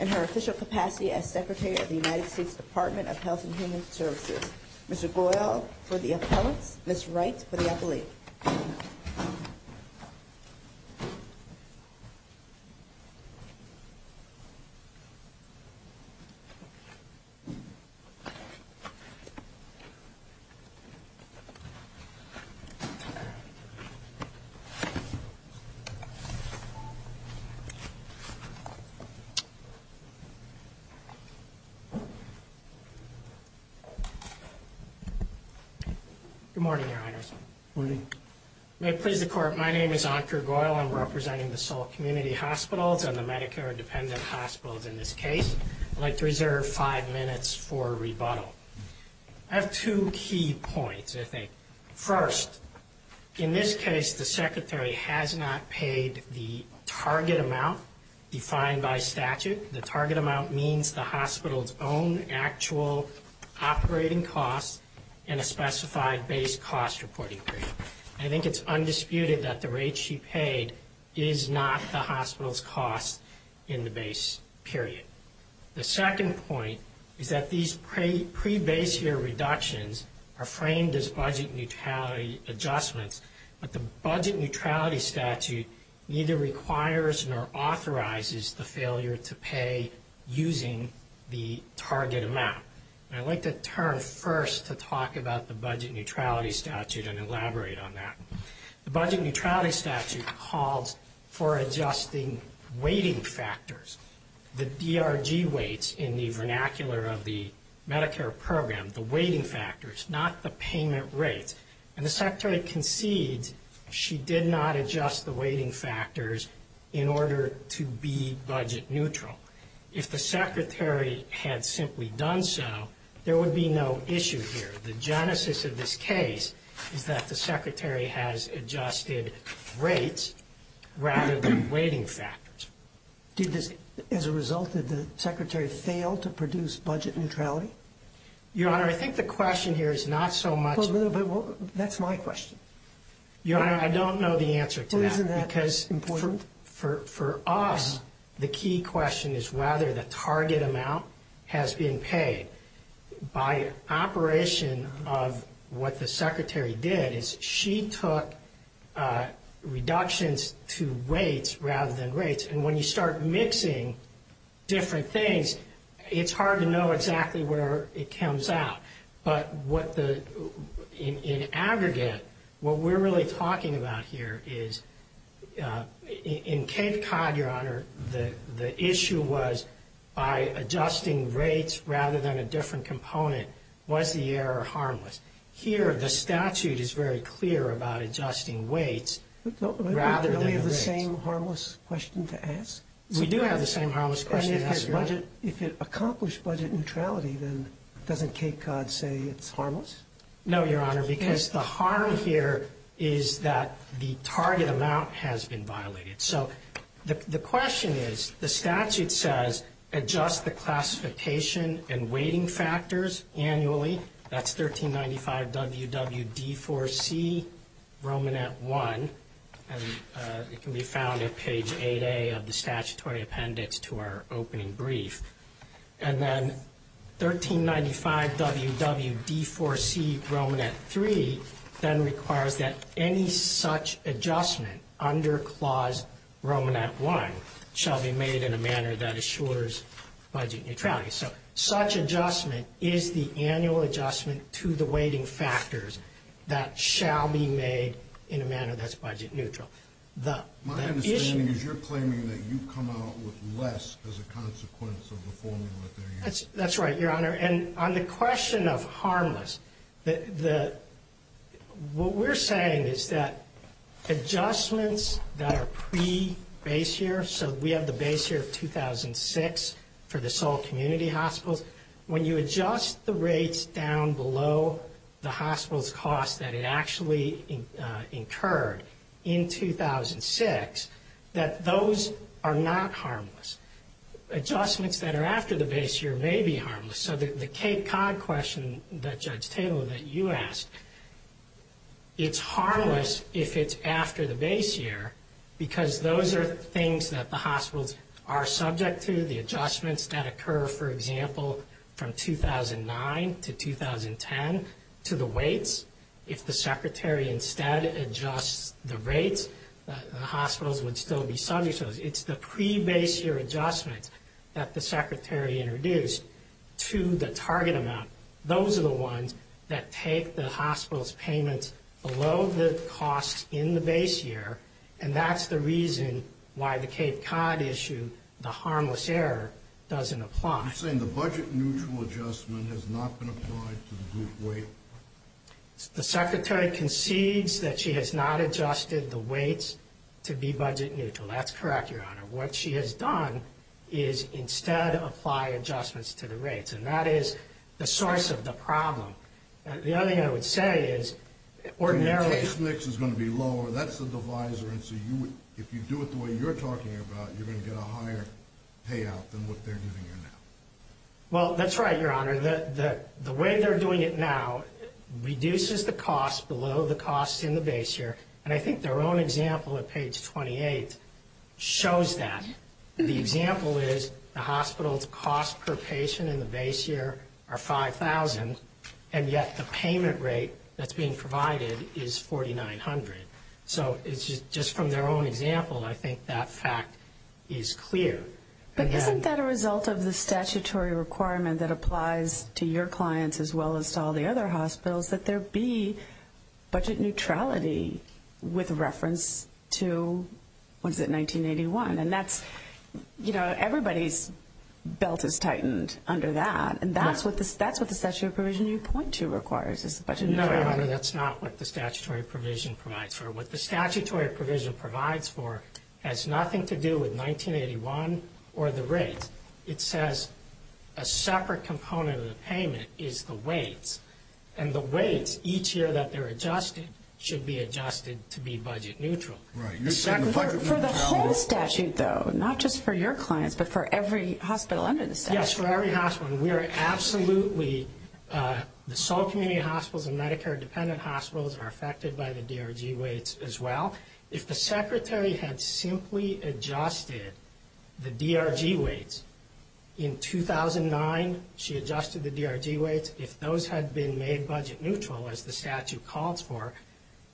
in her official capacity as Secretary of the United States Department of Health and Human Services. Mr. Goyal for the appellants, Ms. Wright for the appellate. Thank you, Mr. Chairman. Good morning, Your Honors. Good morning. May it please the Court, my name is Ankur Goyal. I'm representing the Seoul Community Hospitals and the Medicare-dependent hospitals in this case. I'd like to reserve five minutes for rebuttal. I have two key points, I think. First, in this case, the Secretary has not paid the target amount defined by statute. The target amount means the hospital's own actual operating costs and a specified base cost reporting period. I think it's undisputed that the rate she paid is not the hospital's cost in the base period. The second point is that these pre-base year reductions are framed as budget neutrality adjustments, but the budget neutrality statute neither requires nor authorizes the failure to pay using the target amount. I'd like to turn first to talk about the budget neutrality statute and elaborate on that. The budget neutrality statute calls for adjusting weighting factors, the DRG weights in the vernacular of the Medicare program, the weighting factors, not the payment rates. And the Secretary concedes she did not adjust the weighting factors in order to be budget neutral. If the Secretary had simply done so, there would be no issue here. The genesis of this case is that the Secretary has adjusted rates rather than weighting factors. Did this, as a result, did the Secretary fail to produce budget neutrality? Your Honor, I think the question here is not so much. But that's my question. Your Honor, I don't know the answer to that. Well, isn't that important? Because for us, the key question is whether the target amount has been paid. By operation of what the Secretary did is she took reductions to weights rather than rates, and when you start mixing different things, it's hard to know exactly where it comes out. But in aggregate, what we're really talking about here is in Cape Cod, Your Honor, the issue was by adjusting rates rather than a different component, was the error harmless? Here, the statute is very clear about adjusting weights rather than rates. Don't we have the same harmless question to ask? We do have the same harmless question to ask, Your Honor. If it accomplished budget neutrality, then doesn't Cape Cod say it's harmless? No, Your Honor, because the harm here is that the target amount has been violated. So the question is the statute says adjust the classification and weighting factors annually. That's 1395WWD4C, Romanet I, and it can be found at page 8A of the statutory appendix to our opening brief. And then 1395WWD4C, Romanet III then requires that any such adjustment under Clause Romanet I shall be made in a manner that assures budget neutrality. So such adjustment is the annual adjustment to the weighting factors that shall be made in a manner that's budget neutral. My understanding is you're claiming that you come out with less as a consequence of the formula there. That's right, Your Honor. And on the question of harmless, what we're saying is that adjustments that are pre-base year, so we have the base year of 2006 for the Seoul Community Hospitals, when you adjust the rates down below the hospital's cost that it actually incurred in 2006, that those are not harmless. Adjustments that are after the base year may be harmless. So the Cape Cod question that Judge Taylor, that you asked, it's harmless if it's after the base year because those are things that the hospitals are subject to, the adjustments that occur, for example, from 2009 to 2010 to the weights. If the Secretary instead adjusts the rates, the hospitals would still be subject to those. It's the pre-base year adjustments that the Secretary introduced to the target amount. Those are the ones that take the hospital's payments below the cost in the base year, and that's the reason why the Cape Cod issue, the harmless error, doesn't apply. You're saying the budget neutral adjustment has not been applied to the group weight? The Secretary concedes that she has not adjusted the weights to be budget neutral. That's correct, Your Honor. What she has done is instead apply adjustments to the rates, and that is the source of the problem. The other thing I would say is ordinarily— The case mix is going to be lower. That's the divisor, and so if you do it the way you're talking about, you're going to get a higher payout than what they're giving you now. Well, that's right, Your Honor. The way they're doing it now reduces the cost below the cost in the base year, and I think their own example at page 28 shows that. The example is the hospital's cost per patient in the base year are $5,000, and yet the payment rate that's being provided is $4,900. So just from their own example, I think that fact is clear. But isn't that a result of the statutory requirement that applies to your clients as well as to all the other hospitals, that there be budget neutrality with reference to, what is it, 1981? And everybody's belt is tightened under that, and that's what the statutory provision you point to requires is the budget neutrality. No, Your Honor, that's not what the statutory provision provides for. What the statutory provision provides for has nothing to do with 1981 or the rates. It says a separate component of the payment is the weights, and the weights each year that they're adjusted should be adjusted to be budget neutral. For the whole statute, though, not just for your clients, but for every hospital under the statute. Yes, for every hospital. We are absolutely the sole community hospitals and Medicare-dependent hospitals are affected by the DRG weights as well. If the secretary had simply adjusted the DRG weights in 2009, she adjusted the DRG weights. If those had been made budget neutral, as the statute calls for,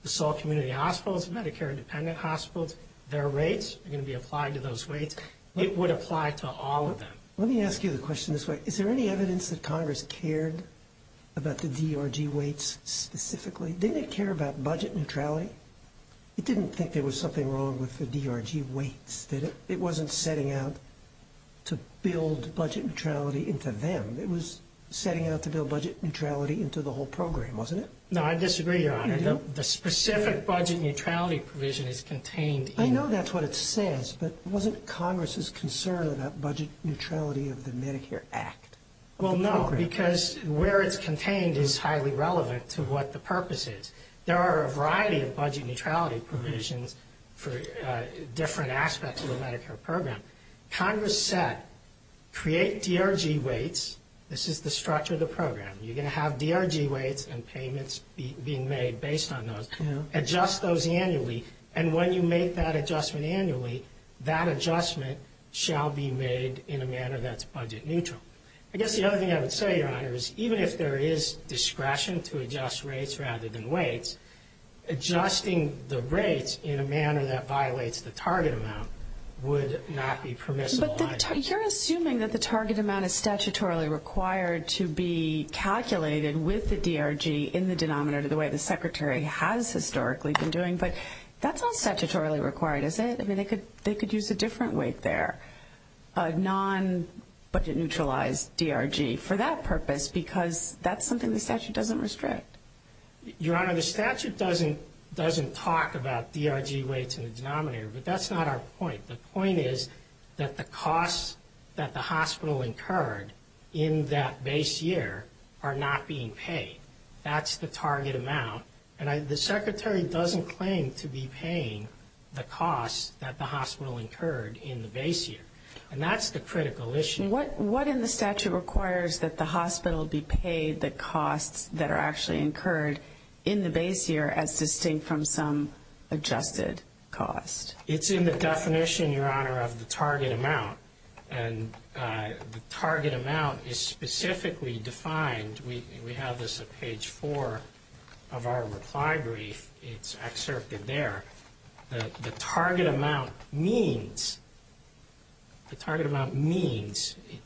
the sole community hospitals, Medicare-independent hospitals, their rates are going to be applied to those weights. It would apply to all of them. Let me ask you the question this way. Is there any evidence that Congress cared about the DRG weights specifically? Didn't it care about budget neutrality? It didn't think there was something wrong with the DRG weights, did it? It wasn't setting out to build budget neutrality into them. It was setting out to build budget neutrality into the whole program, wasn't it? No, I disagree, Your Honor. The specific budget neutrality provision is contained. I know that's what it says, but wasn't Congress' concern about budget neutrality of the Medicare Act? Well, no, because where it's contained is highly relevant to what the purpose is. There are a variety of budget neutrality provisions for different aspects of the Medicare program. Congress said, create DRG weights. This is the structure of the program. You're going to have DRG weights and payments being made based on those. Adjust those annually, and when you make that adjustment annually, that adjustment shall be made in a manner that's budget neutral. I guess the other thing I would say, Your Honor, is even if there is discretion to adjust rates rather than weights, adjusting the rates in a manner that violates the target amount would not be permissible. But you're assuming that the target amount is statutorily required to be calculated with the DRG in the denominator to the way the Secretary has historically been doing, but that's not statutorily required, is it? I mean, they could use a different weight there, a non-budget neutralized DRG for that purpose because that's something the statute doesn't restrict. Your Honor, the statute doesn't talk about DRG weights in the denominator, but that's not our point. The point is that the costs that the hospital incurred in that base year are not being paid. That's the target amount. And the Secretary doesn't claim to be paying the costs that the hospital incurred in the base year, and that's the critical issue. What in the statute requires that the hospital be paid the costs that are actually incurred in the base year as distinct from some adjusted cost? It's in the definition, Your Honor, of the target amount, and the target amount is specifically defined. We have this at page 4 of our reply brief. It's excerpted there. The target amount means, it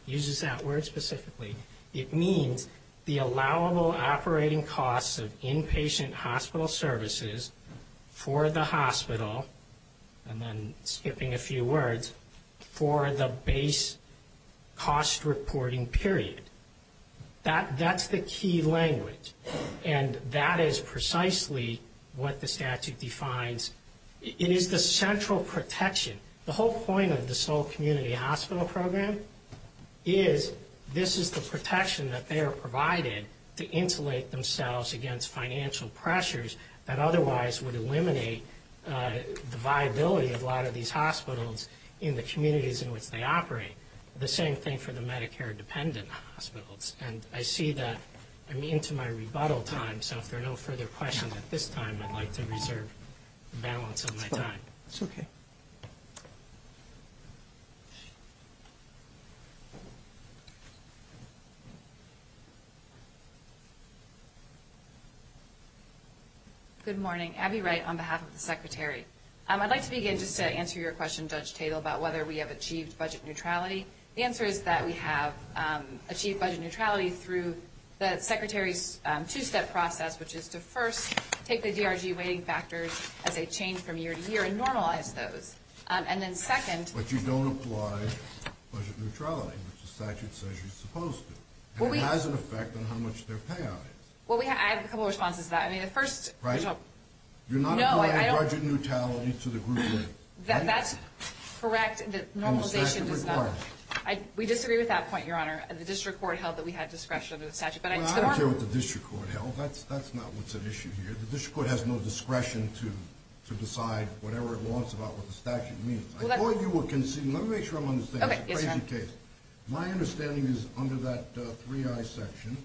uses that word specifically, it means the allowable operating costs of inpatient hospital services for the hospital, and then skipping a few words, for the base cost reporting period. That's the key language, and that is precisely what the statute defines. It is the central protection. The whole point of the Seoul Community Hospital Program is this is the protection that they are provided to insulate themselves against financial pressures that otherwise would eliminate the viability of a lot of these hospitals in the communities in which they operate. The same thing for the Medicare-dependent hospitals. And I see that I'm into my rebuttal time, so if there are no further questions at this time, I'd like to reserve the balance of my time. It's okay. Good morning. Abby Wright on behalf of the Secretary. I'd like to begin just to answer your question, Judge Tatel, about whether we have achieved budget neutrality. The answer is that we have achieved budget neutrality through the Secretary's two-step process, which is to first take the DRG weighting factors as they change from year to year and normalize those. And then second – But you don't apply budget neutrality, which the statute says you're supposed to. And it has an effect on how much they're paid. Well, I have a couple of responses to that. I mean, the first – Right. You're not applying budget neutrality to the group – That's correct. The normalization does not – And the statute requires it. We disagree with that point, Your Honor. The district court held that we had discretion under the statute. Well, I don't care what the district court held. That's not what's at issue here. The district court has no discretion to decide whatever it wants about what the statute means. I thought you were conceding – Let me make sure I'm understanding. It's a crazy case. Okay. Yes, Your Honor. My understanding is under that three-I section,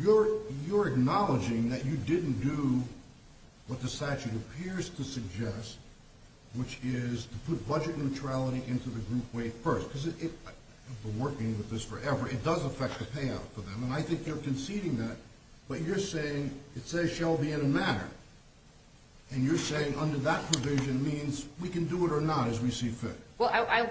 you're acknowledging that you didn't do what the statute appears to suggest, which is to put budget neutrality into the group weight first. Because if we're working with this forever, it does affect the payout for them. And I think you're conceding that. But you're saying it says shall be in a manner, and you're saying under that provision means we can do it or not as we see fit. Well, I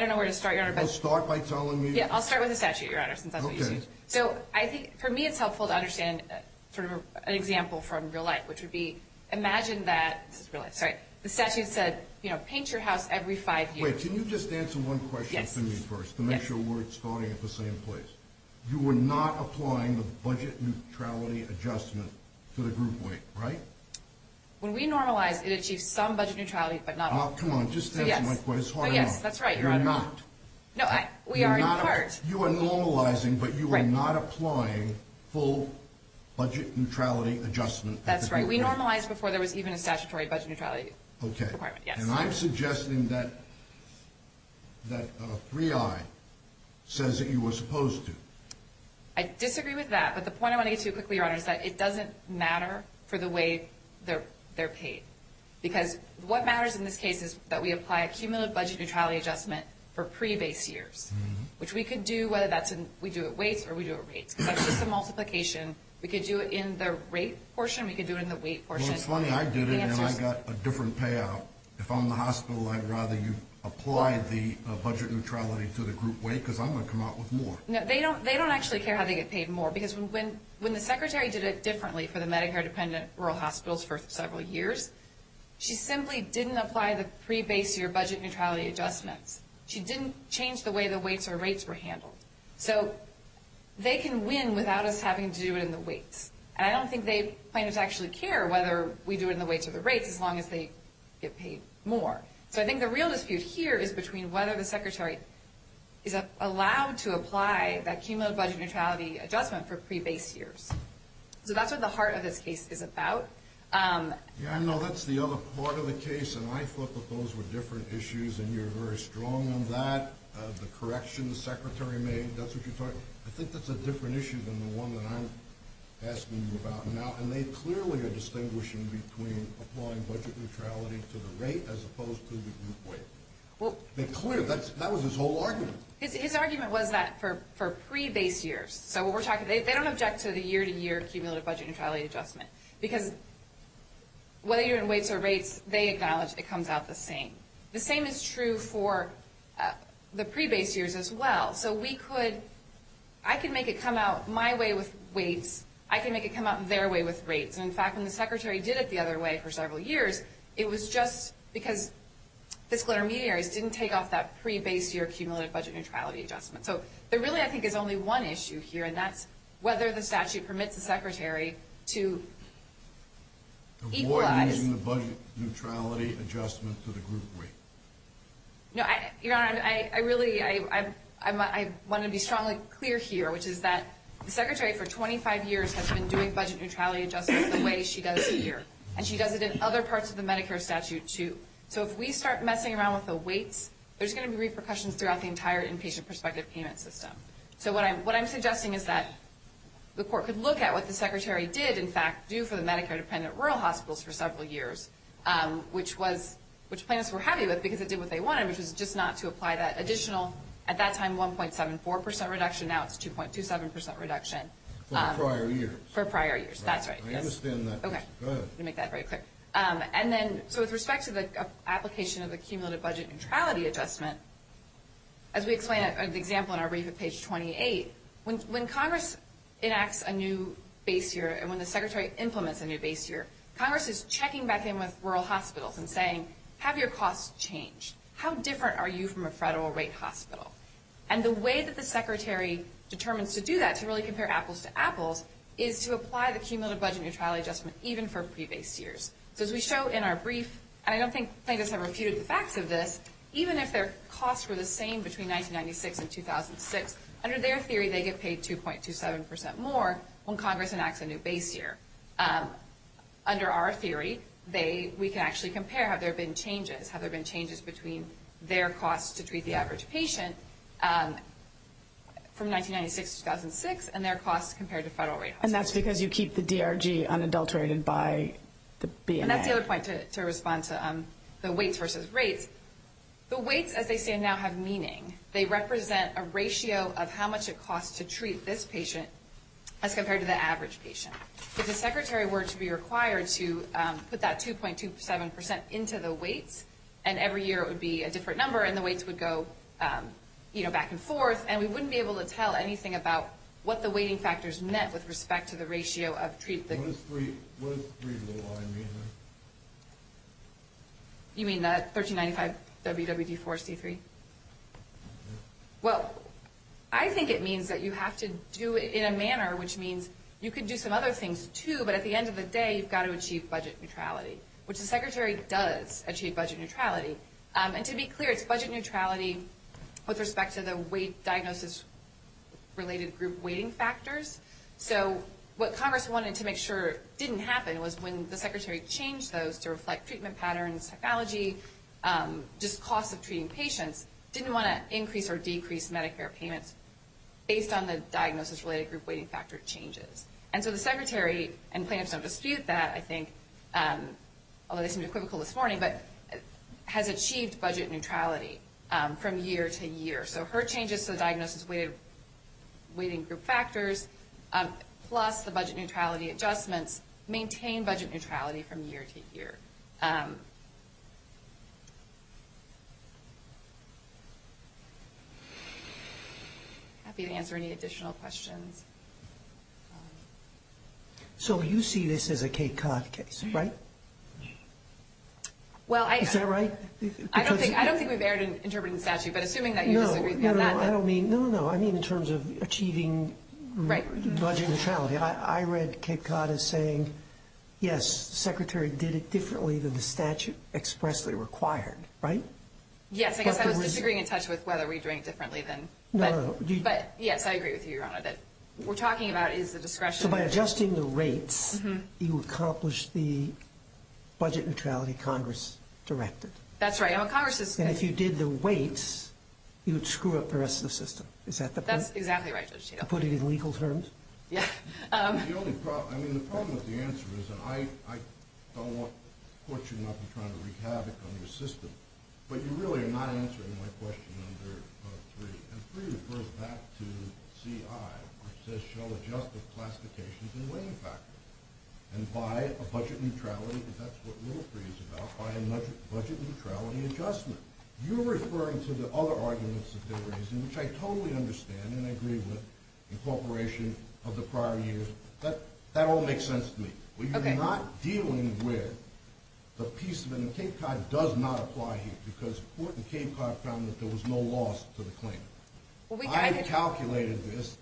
don't know where to start, Your Honor. Well, start by telling me – Yeah, I'll start with the statute, Your Honor, since that's what you said. Okay. So I think for me it's helpful to understand sort of an example from real life, which would be imagine that – this is real life, sorry – the statute said, you know, paint your house every five years. Wait, can you just answer one question for me first to make sure we're starting at the same place? You were not applying the budget neutrality adjustment to the group weight, right? When we normalize, it achieves some budget neutrality, but not all. Oh, come on, just answer my question. It's hard enough. Yes, that's right, Your Honor. You're not. No, we are in part. You are normalizing, but you are not applying full budget neutrality adjustment. That's right. We normalized before there was even a statutory budget neutrality requirement, yes. And I'm suggesting that 3I says that you were supposed to. I disagree with that, but the point I want to get to quickly, Your Honor, is that it doesn't matter for the way they're paid, because what matters in this case is that we apply a cumulative budget neutrality adjustment for pre-base years, which we could do whether that's – we do it weights or we do it rates, because that's just a multiplication. We could do it in the rate portion. We could do it in the weight portion. Well, it's funny, I did it and I got a different payout. If I'm the hospital, I'd rather you apply the budget neutrality to the group weight, because I'm going to come out with more. No, they don't actually care how they get paid more, because when the Secretary did it differently for the Medicare-dependent rural hospitals for several years, she simply didn't apply the pre-base year budget neutrality adjustments. She didn't change the way the weights or rates were handled. So they can win without us having to do it in the weights. And I don't think they plan to actually care whether we do it in the weights or the rates, as long as they get paid more. So I think the real dispute here is between whether the Secretary is allowed to apply that cumulative budget neutrality adjustment for pre-base years. So that's what the heart of this case is about. Yeah, I know that's the other part of the case, and I thought that those were different issues and you're very strong on that, the correction the Secretary made, that's what you're talking – I think that's a different issue than the one that I'm asking you about now, and they clearly are distinguishing between applying budget neutrality to the rate as opposed to the group weight. They clearly – that was his whole argument. His argument was that for pre-base years, so what we're talking – they don't object to the year-to-year cumulative budget neutrality adjustment, because whether you're in weights or rates, they acknowledge it comes out the same. The same is true for the pre-base years as well. So we could – I can make it come out my way with weights. I can make it come out their way with rates. And, in fact, when the Secretary did it the other way for several years, it was just because fiscal intermediaries didn't take off that pre-base year cumulative budget neutrality adjustment. So there really, I think, is only one issue here, and that's whether the statute permits the Secretary to equalize. Avoid using the budget neutrality adjustment for the group weight. No, Your Honor, I really – I want to be strongly clear here, which is that the Secretary for 25 years has been doing budget neutrality adjustments the way she does here, and she does it in other parts of the Medicare statute too. So if we start messing around with the weights, there's going to be repercussions throughout the entire inpatient prospective payment system. So what I'm suggesting is that the court could look at what the Secretary did, in fact, do for the Medicare-dependent rural hospitals for several years, which was – which plaintiffs were happy with because it did what they wanted, which was just not to apply that additional, at that time, 1.74 percent reduction. Now it's 2.27 percent reduction. For prior years. For prior years, that's right. I understand that. Okay. Go ahead. I'm going to make that very clear. And then – so with respect to the application of the cumulative budget neutrality adjustment, as we explain in the example on our brief at page 28, when Congress enacts a new base year and when the Secretary implements a new base year, Congress is checking back in with rural hospitals and saying, have your costs changed? How different are you from a federal rate hospital? And the way that the Secretary determines to do that, to really compare apples to apples, is to apply the cumulative budget neutrality adjustment even for pre-base years. So as we show in our brief, and I don't think plaintiffs have refuted the facts of this, even if their costs were the same between 1996 and 2006, under their theory they get paid 2.27 percent more when Congress enacts a new base year. Under our theory, we can actually compare, have there been changes? Have there been changes between their costs to treat the average patient from 1996 to 2006 and their costs compared to federal rate hospitals? And that's because you keep the DRG unadulterated by the BAN. And that's the other point to respond to the weights versus rates. The weights, as they stand now, have meaning. They represent a ratio of how much it costs to treat this patient as compared to the average patient. If the Secretary were to be required to put that 2.27 percent into the weights and every year it would be a different number and the weights would go back and forth and we wouldn't be able to tell anything about what the weighting factors meant with respect to the ratio of treatment. What does 3 to the Y mean? You mean that 1395, WWD4, C3? Well, I think it means that you have to do it in a manner which means you can do some other things too, but at the end of the day you've got to achieve budget neutrality, which the Secretary does achieve budget neutrality. And to be clear, it's budget neutrality with respect to the weight diagnosis-related group weighting factors. So what Congress wanted to make sure didn't happen was when the Secretary changed those to reflect treatment patterns, technology, just costs of treating patients, didn't want to increase or decrease Medicare payments based on the diagnosis-related group weighting factor changes. And so the Secretary, and plaintiffs don't dispute that, I think, although they seemed equivocal this morning, but has achieved budget neutrality from year to year. So her changes to the diagnosis-related group factors plus the budget neutrality adjustments maintain budget neutrality from year to year. Happy to answer any additional questions. So you see this as a Cape Cod case, right? Is that right? I don't think we've erred in interpreting the statute, but assuming that you disagree with me on that- No, no, I don't mean-no, no, I mean in terms of achieving budget neutrality. I read Cape Cod as saying, yes, the Secretary did it differently than the statute expressly required, right? Yes, I guess I was disagreeing in touch with whether we drink differently than- No, no, no. But yes, I agree with you, Your Honor, that what we're talking about is the discretion- And by adjusting the rates, you accomplished the budget neutrality Congress directed. That's right. Now, Congress is- And if you did the weights, you would screw up the rest of the system. Is that the point? That's exactly right, Judge Tatum. Put it in legal terms? Yeah. The only problem-I mean, the problem with the answer is that I don't want the court to not be trying to wreak havoc on your system, but you really are not answering my question under 3. And 3 refers back to C.I., which says, shall adjust the classifications and weighting factors. And by a budget neutrality-because that's what Rule 3 is about-by a budget neutrality adjustment. You're referring to the other arguments that they're raising, which I totally understand and I agree with, incorporation of the prior years. That all makes sense to me. Okay. I'm not dealing with the piece of it. The Cape Cod does not apply here because the Cape Cod found that there was no loss to the claim. I calculated this.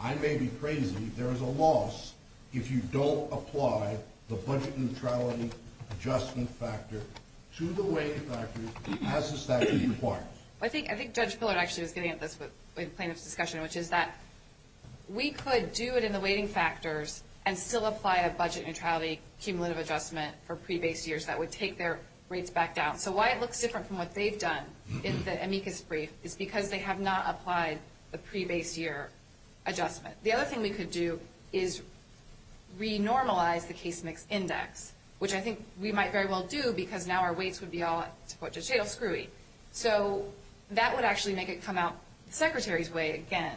I may be crazy. There is a loss if you don't apply the budget neutrality adjustment factor to the weighting factors as the statute requires. I think Judge Pillard actually was getting at this in plaintiff's discussion, which is that we could do it in the weighting factors and still apply a budget neutrality cumulative adjustment for pre-based years that would take their rates back down. So why it looks different from what they've done in the amicus brief is because they have not applied the pre-based year adjustment. The other thing we could do is renormalize the case mix index, which I think we might very well do because now our weights would be all, to quote Judge Shadle, screwy. That would actually make it come out the Secretary's way again.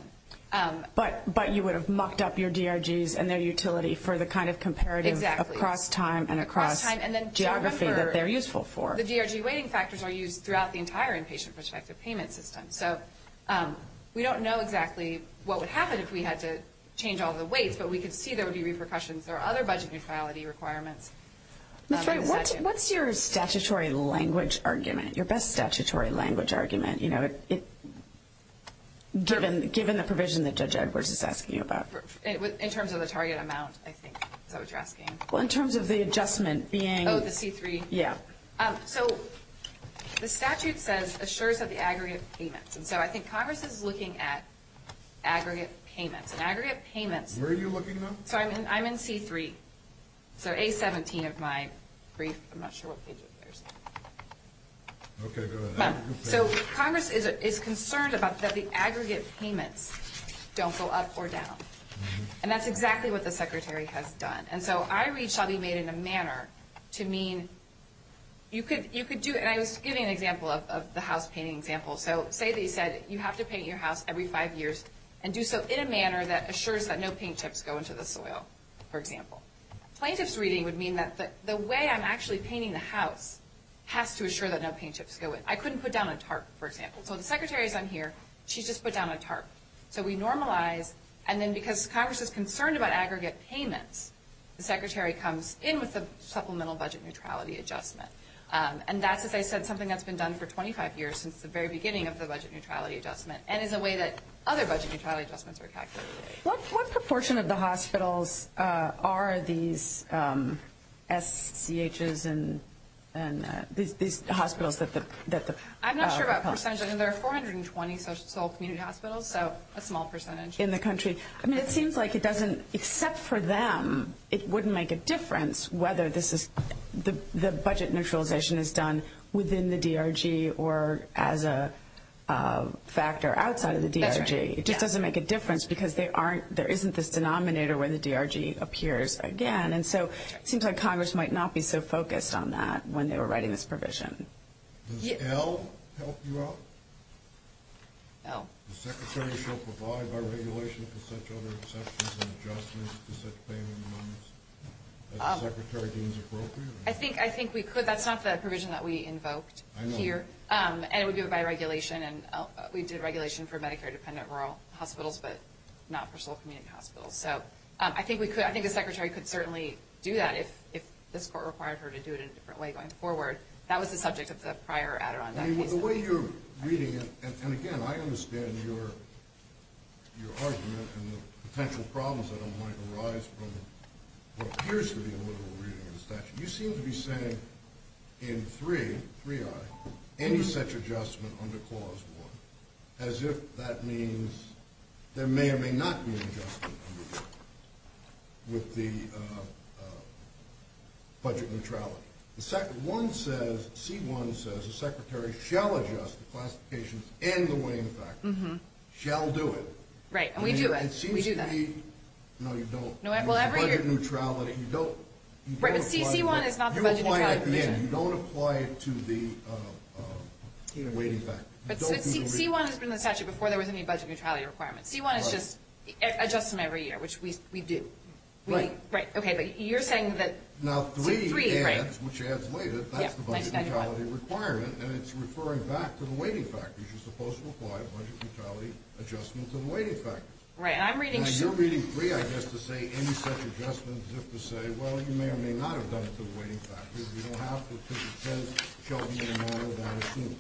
But you would have mucked up your DRGs and their utility for the kind of comparative across time and across geography that they're useful for. The DRG weighting factors are used throughout the entire inpatient prospective payment system. We don't know exactly what would happen if we had to change all the weights, but we could see there would be repercussions or other budget neutrality requirements. That's right. What's your statutory language argument, your best statutory language argument, you know, given the provision that Judge Edwards is asking about? In terms of the target amount, I think, is what you're asking. Well, in terms of the adjustment being. Oh, the C3. Yeah. So the statute says assures of the aggregate payments. And so I think Congress is looking at aggregate payments. And aggregate payments. Where are you looking now? So I'm in C3. So A17 of my brief. I'm not sure what page it is. Okay, go ahead. So Congress is concerned about that the aggregate payments don't go up or down. And that's exactly what the Secretary has done. And so I read shall be made in a manner to mean you could do it. And I was giving an example of the house painting example. So say they said you have to paint your house every five years and do so in a manner that assures that no paint chips go into the soil, for example. Plaintiff's reading would mean that the way I'm actually painting the house has to assure that no paint chips go in. I couldn't put down a tarp, for example. So the Secretary is on here. She's just put down a tarp. So we normalize. And then because Congress is concerned about aggregate payments, the Secretary comes in with a supplemental budget neutrality adjustment. And that's, as I said, something that's been done for 25 years, since the very beginning of the budget neutrality adjustment and is a way that other budget neutrality adjustments are calculated. What proportion of the hospitals are these SCHs and these hospitals? I'm not sure about percentage. I mean, there are 420 sole community hospitals, so a small percentage. In the country. I mean, it seems like it doesn't, except for them, it wouldn't make a difference whether the budget neutralization is done within the DRG or as a factor outside of the DRG. It just doesn't make a difference because there isn't this denominator where the DRG appears again. And so it seems like Congress might not be so focused on that when they were writing this provision. Does L help you out? L. The Secretary shall provide by regulation for such other exceptions and adjustments to such payment amounts as the Secretary deems appropriate? I think we could. That's not the provision that we invoked here. I know. And it would be by regulation, and we did regulation for Medicare-dependent rural hospitals, but not for sole community hospitals. So I think we could. I think the Secretary could certainly do that if this court required her to do it in a different way going forward. That was the subject of the prior Adirondack case. The way you're reading it, and, again, I understand your argument and the potential problems that might arise from what appears to be a literal reading of the statute. You seem to be saying in 3I any such adjustment under Clause 1 as if that means there may or may not be an adjustment with the budget neutrality. C-1 says the Secretary shall adjust the classifications and the weighting factors. Shall do it. Right, and we do it. We do that. No, you don't. It's the budget neutrality. Right, but C-1 is not the budget neutrality provision. You don't apply it to the weighting factors. But C-1 has been in the statute before there was any budget neutrality requirement. C-1 is just adjustment every year, which we do. Right. Right. Okay, but you're saying that C-3, right. Now, 3 adds, which adds later, that's the budget neutrality requirement, and it's referring back to the weighting factors. You're supposed to apply a budget neutrality adjustment to the weighting factors. Right, and I'm reading C-1. Now, you're reading 3, I guess, to say any such adjustment as if to say, well, you may or may not have done it to the weighting factors. You don't have to present shall be made in a manner that assures. Is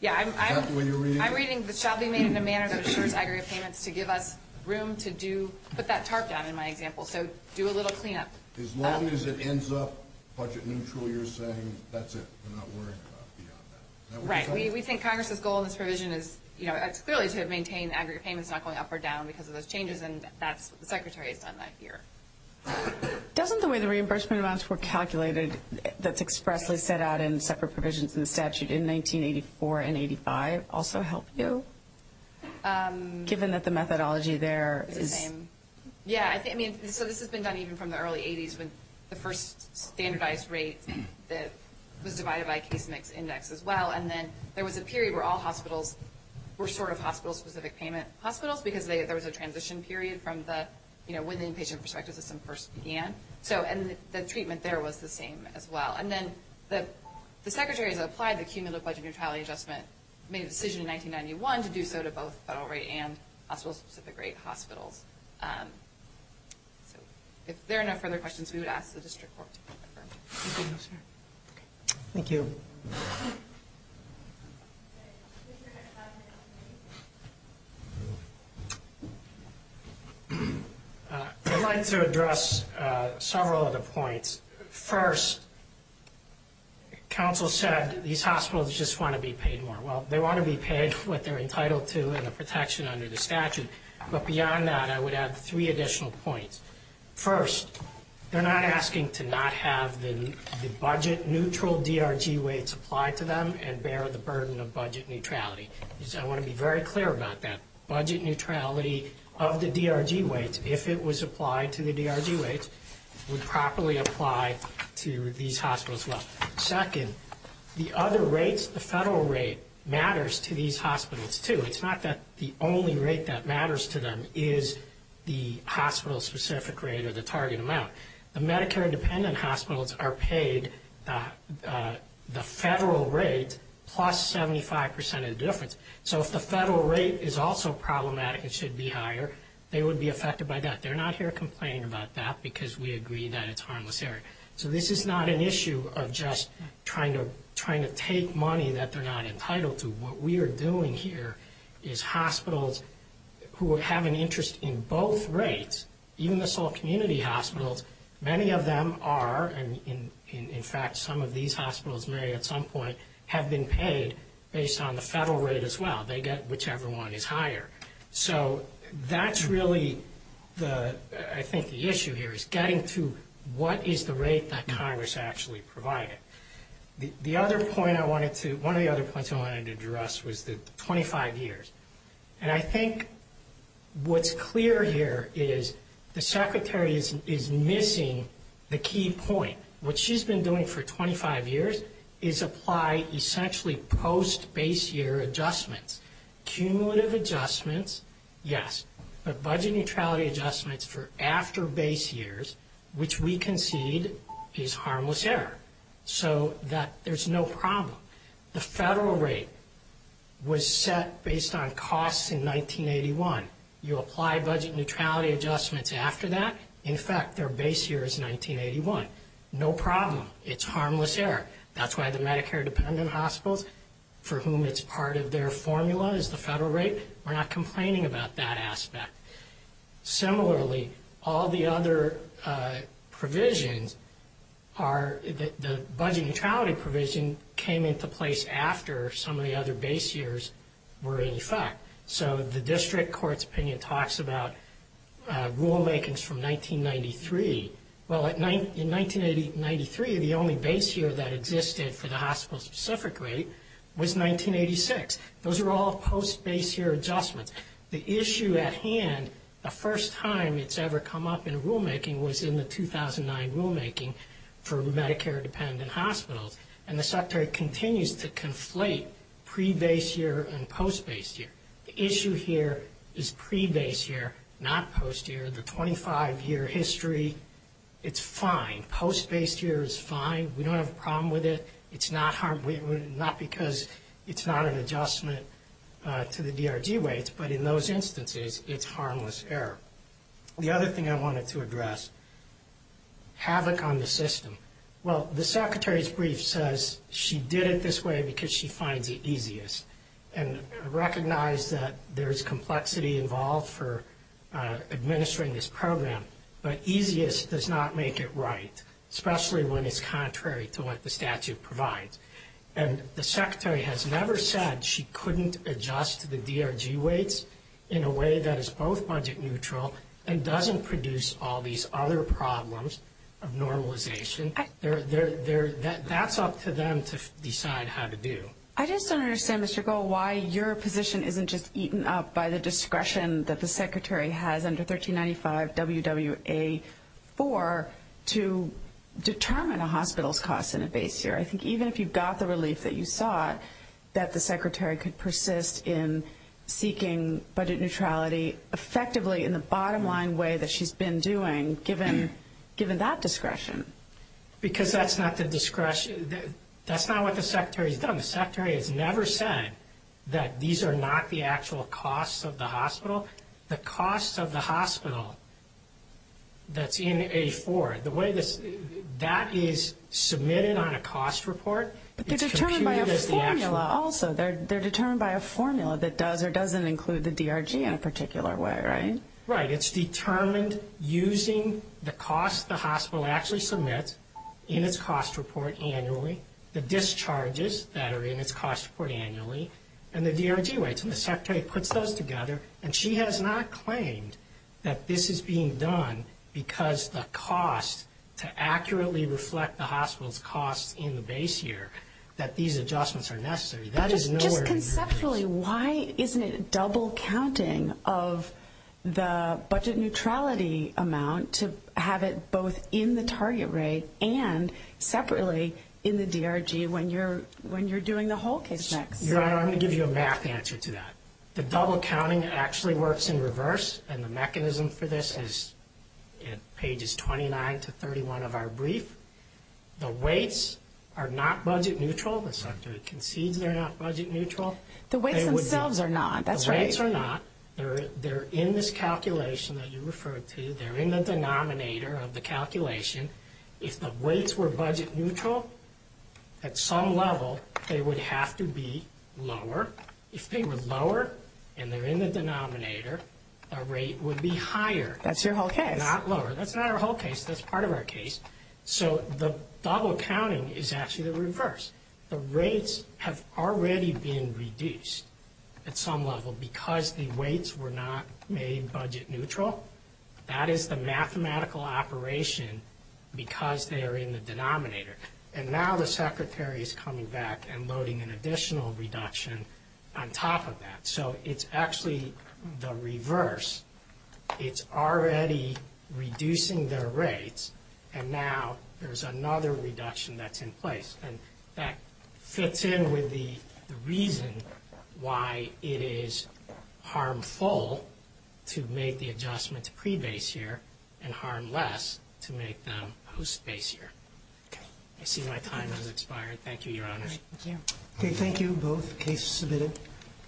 that the way you're reading it? I'm reading the shall be made in a manner that assures aggregate payments to give us room to do put that tarp down in my example, so do a little cleanup. As long as it ends up budget neutral, you're saying that's it, we're not worrying about beyond that. Right. We think Congress's goal in this provision is, you know, it's clearly to maintain aggregate payments not going up or down because of those changes, and that's what the Secretary has done that year. Doesn't the way the reimbursement amounts were calculated that's expressly set out in separate provisions in the statute in 1984 and 85 also help you, given that the methodology there is Yeah, I mean, so this has been done even from the early 80s, when the first standardized rate that was divided by case mix index as well, and then there was a period where all hospitals were sort of hospital-specific payment hospitals because there was a transition period from the, you know, when the inpatient perspective system first began. So, and the treatment there was the same as well. And then the Secretary has applied the cumulative budget neutrality adjustment, made a decision in 1991 to do so to both federal rate and hospital-specific rate hospitals. So, if there are no further questions, we would ask the District Court to confirm. Thank you. I'd like to address several of the points. First, counsel said these hospitals just want to be paid more. Well, they want to be paid what they're entitled to in the protection under the statute. But beyond that, I would add three additional points. First, they're not asking to not have the budget-neutral DRG weights applied to them and bear the burden of budget neutrality. I want to be very clear about that. Budget neutrality of the DRG weights, if it was applied to the DRG weights, would properly apply to these hospitals as well. Second, the other rates, the federal rate, matters to these hospitals too. It's not that the only rate that matters to them is the hospital-specific rate or the target amount. The Medicare-independent hospitals are paid the federal rate plus 75% of the difference. So, if the federal rate is also problematic and should be higher, they would be affected by that. They're not here complaining about that because we agree that it's harmless here. So this is not an issue of just trying to take money that they're not entitled to. What we are doing here is hospitals who have an interest in both rates, even the small community hospitals, many of them are, and in fact, some of these hospitals may at some point have been paid based on the federal rate as well. They get whichever one is higher. So that's really, I think, the issue here is getting to what is the rate that Congress actually provided. The other point I wanted to, one of the other points I wanted to address was the 25 years. And I think what's clear here is the Secretary is missing the key point. What she's been doing for 25 years is apply essentially post-base year adjustments, cumulative adjustments, yes, but budget neutrality adjustments for after base years, which we concede is harmless error so that there's no problem. The federal rate was set based on costs in 1981. You apply budget neutrality adjustments after that. In fact, their base year is 1981. No problem. It's harmless error. That's why the Medicare-dependent hospitals for whom it's part of their formula is the federal rate. We're not complaining about that aspect. Similarly, all the other provisions are the budget neutrality provision came into place after some of the other base years were in effect. So the district court's opinion talks about rulemakings from 1993. Well, in 1993, the only base year that existed for the hospital specifically was 1986. Those are all post-base year adjustments. The issue at hand, the first time it's ever come up in rulemaking, was in the 2009 rulemaking for Medicare-dependent hospitals. And the Secretary continues to conflate pre-base year and post-base year. The issue here is pre-base year, not post year. The 25-year history, it's fine. Post-base year is fine. We don't have a problem with it. It's not because it's not an adjustment to the DRG rates, but in those instances, it's harmless error. The other thing I wanted to address, havoc on the system. Well, the Secretary's brief says she did it this way because she finds it easiest. And I recognize that there's complexity involved for administering this program, but easiest does not make it right, especially when it's contrary to what the statute provides. And the Secretary has never said she couldn't adjust the DRG rates in a way that is both budget neutral and doesn't produce all these other problems of normalization. That's up to them to decide how to do. I just don't understand, Mr. Gohl, why your position isn't just eaten up by the discretion that the Secretary has under 1395 WWA4 to determine a hospital's cost in a base year. I think even if you've got the relief that you sought, that the Secretary could persist in seeking budget neutrality effectively in the bottom-line way that she's been doing, given that discretion. Because that's not the discretion. That's not what the Secretary's done. The Secretary has never said that these are not the actual costs of the hospital. The cost of the hospital that's in A4, the way that is submitted on a cost report is computed as the actual. But they're determined by a formula also. They're determined by a formula that does or doesn't include the DRG in a particular way, right? Right. It's determined using the cost the hospital actually submits in its cost report annually, the discharges that are in its cost report annually, and the DRG rates. And the Secretary puts those together, and she has not claimed that this is being done because the cost to accurately reflect the hospital's costs in the base year, that these adjustments are necessary. Just conceptually, why isn't it double-counting of the budget neutrality amount to have it both in the target rate and separately in the DRG when you're doing the whole case next? Your Honor, I'm going to give you a math answer to that. The double-counting actually works in reverse, and the mechanism for this is at pages 29 to 31 of our brief. The weights are not budget neutral. The Secretary concedes they're not budget neutral. The weights themselves are not. That's right. The weights are not. They're in this calculation that you referred to. They're in the denominator of the calculation. If the weights were budget neutral, at some level, they would have to be lower. If they were lower and they're in the denominator, the rate would be higher. That's your whole case. Not lower. That's not our whole case. That's part of our case. So the double-counting is actually the reverse. The rates have already been reduced at some level because the weights were not made budget neutral. That is the mathematical operation because they are in the denominator. And now the Secretary is coming back and loading an additional reduction on top of that. So it's actually the reverse. It's already reducing their rates, and now there's another reduction that's in place. And that fits in with the reason why it is harmful to make the adjustment to pre-base here and harmless to make them post-base here. Okay. I see my time has expired. Thank you, Your Honors. All right. Thank you. Okay. Thank you both.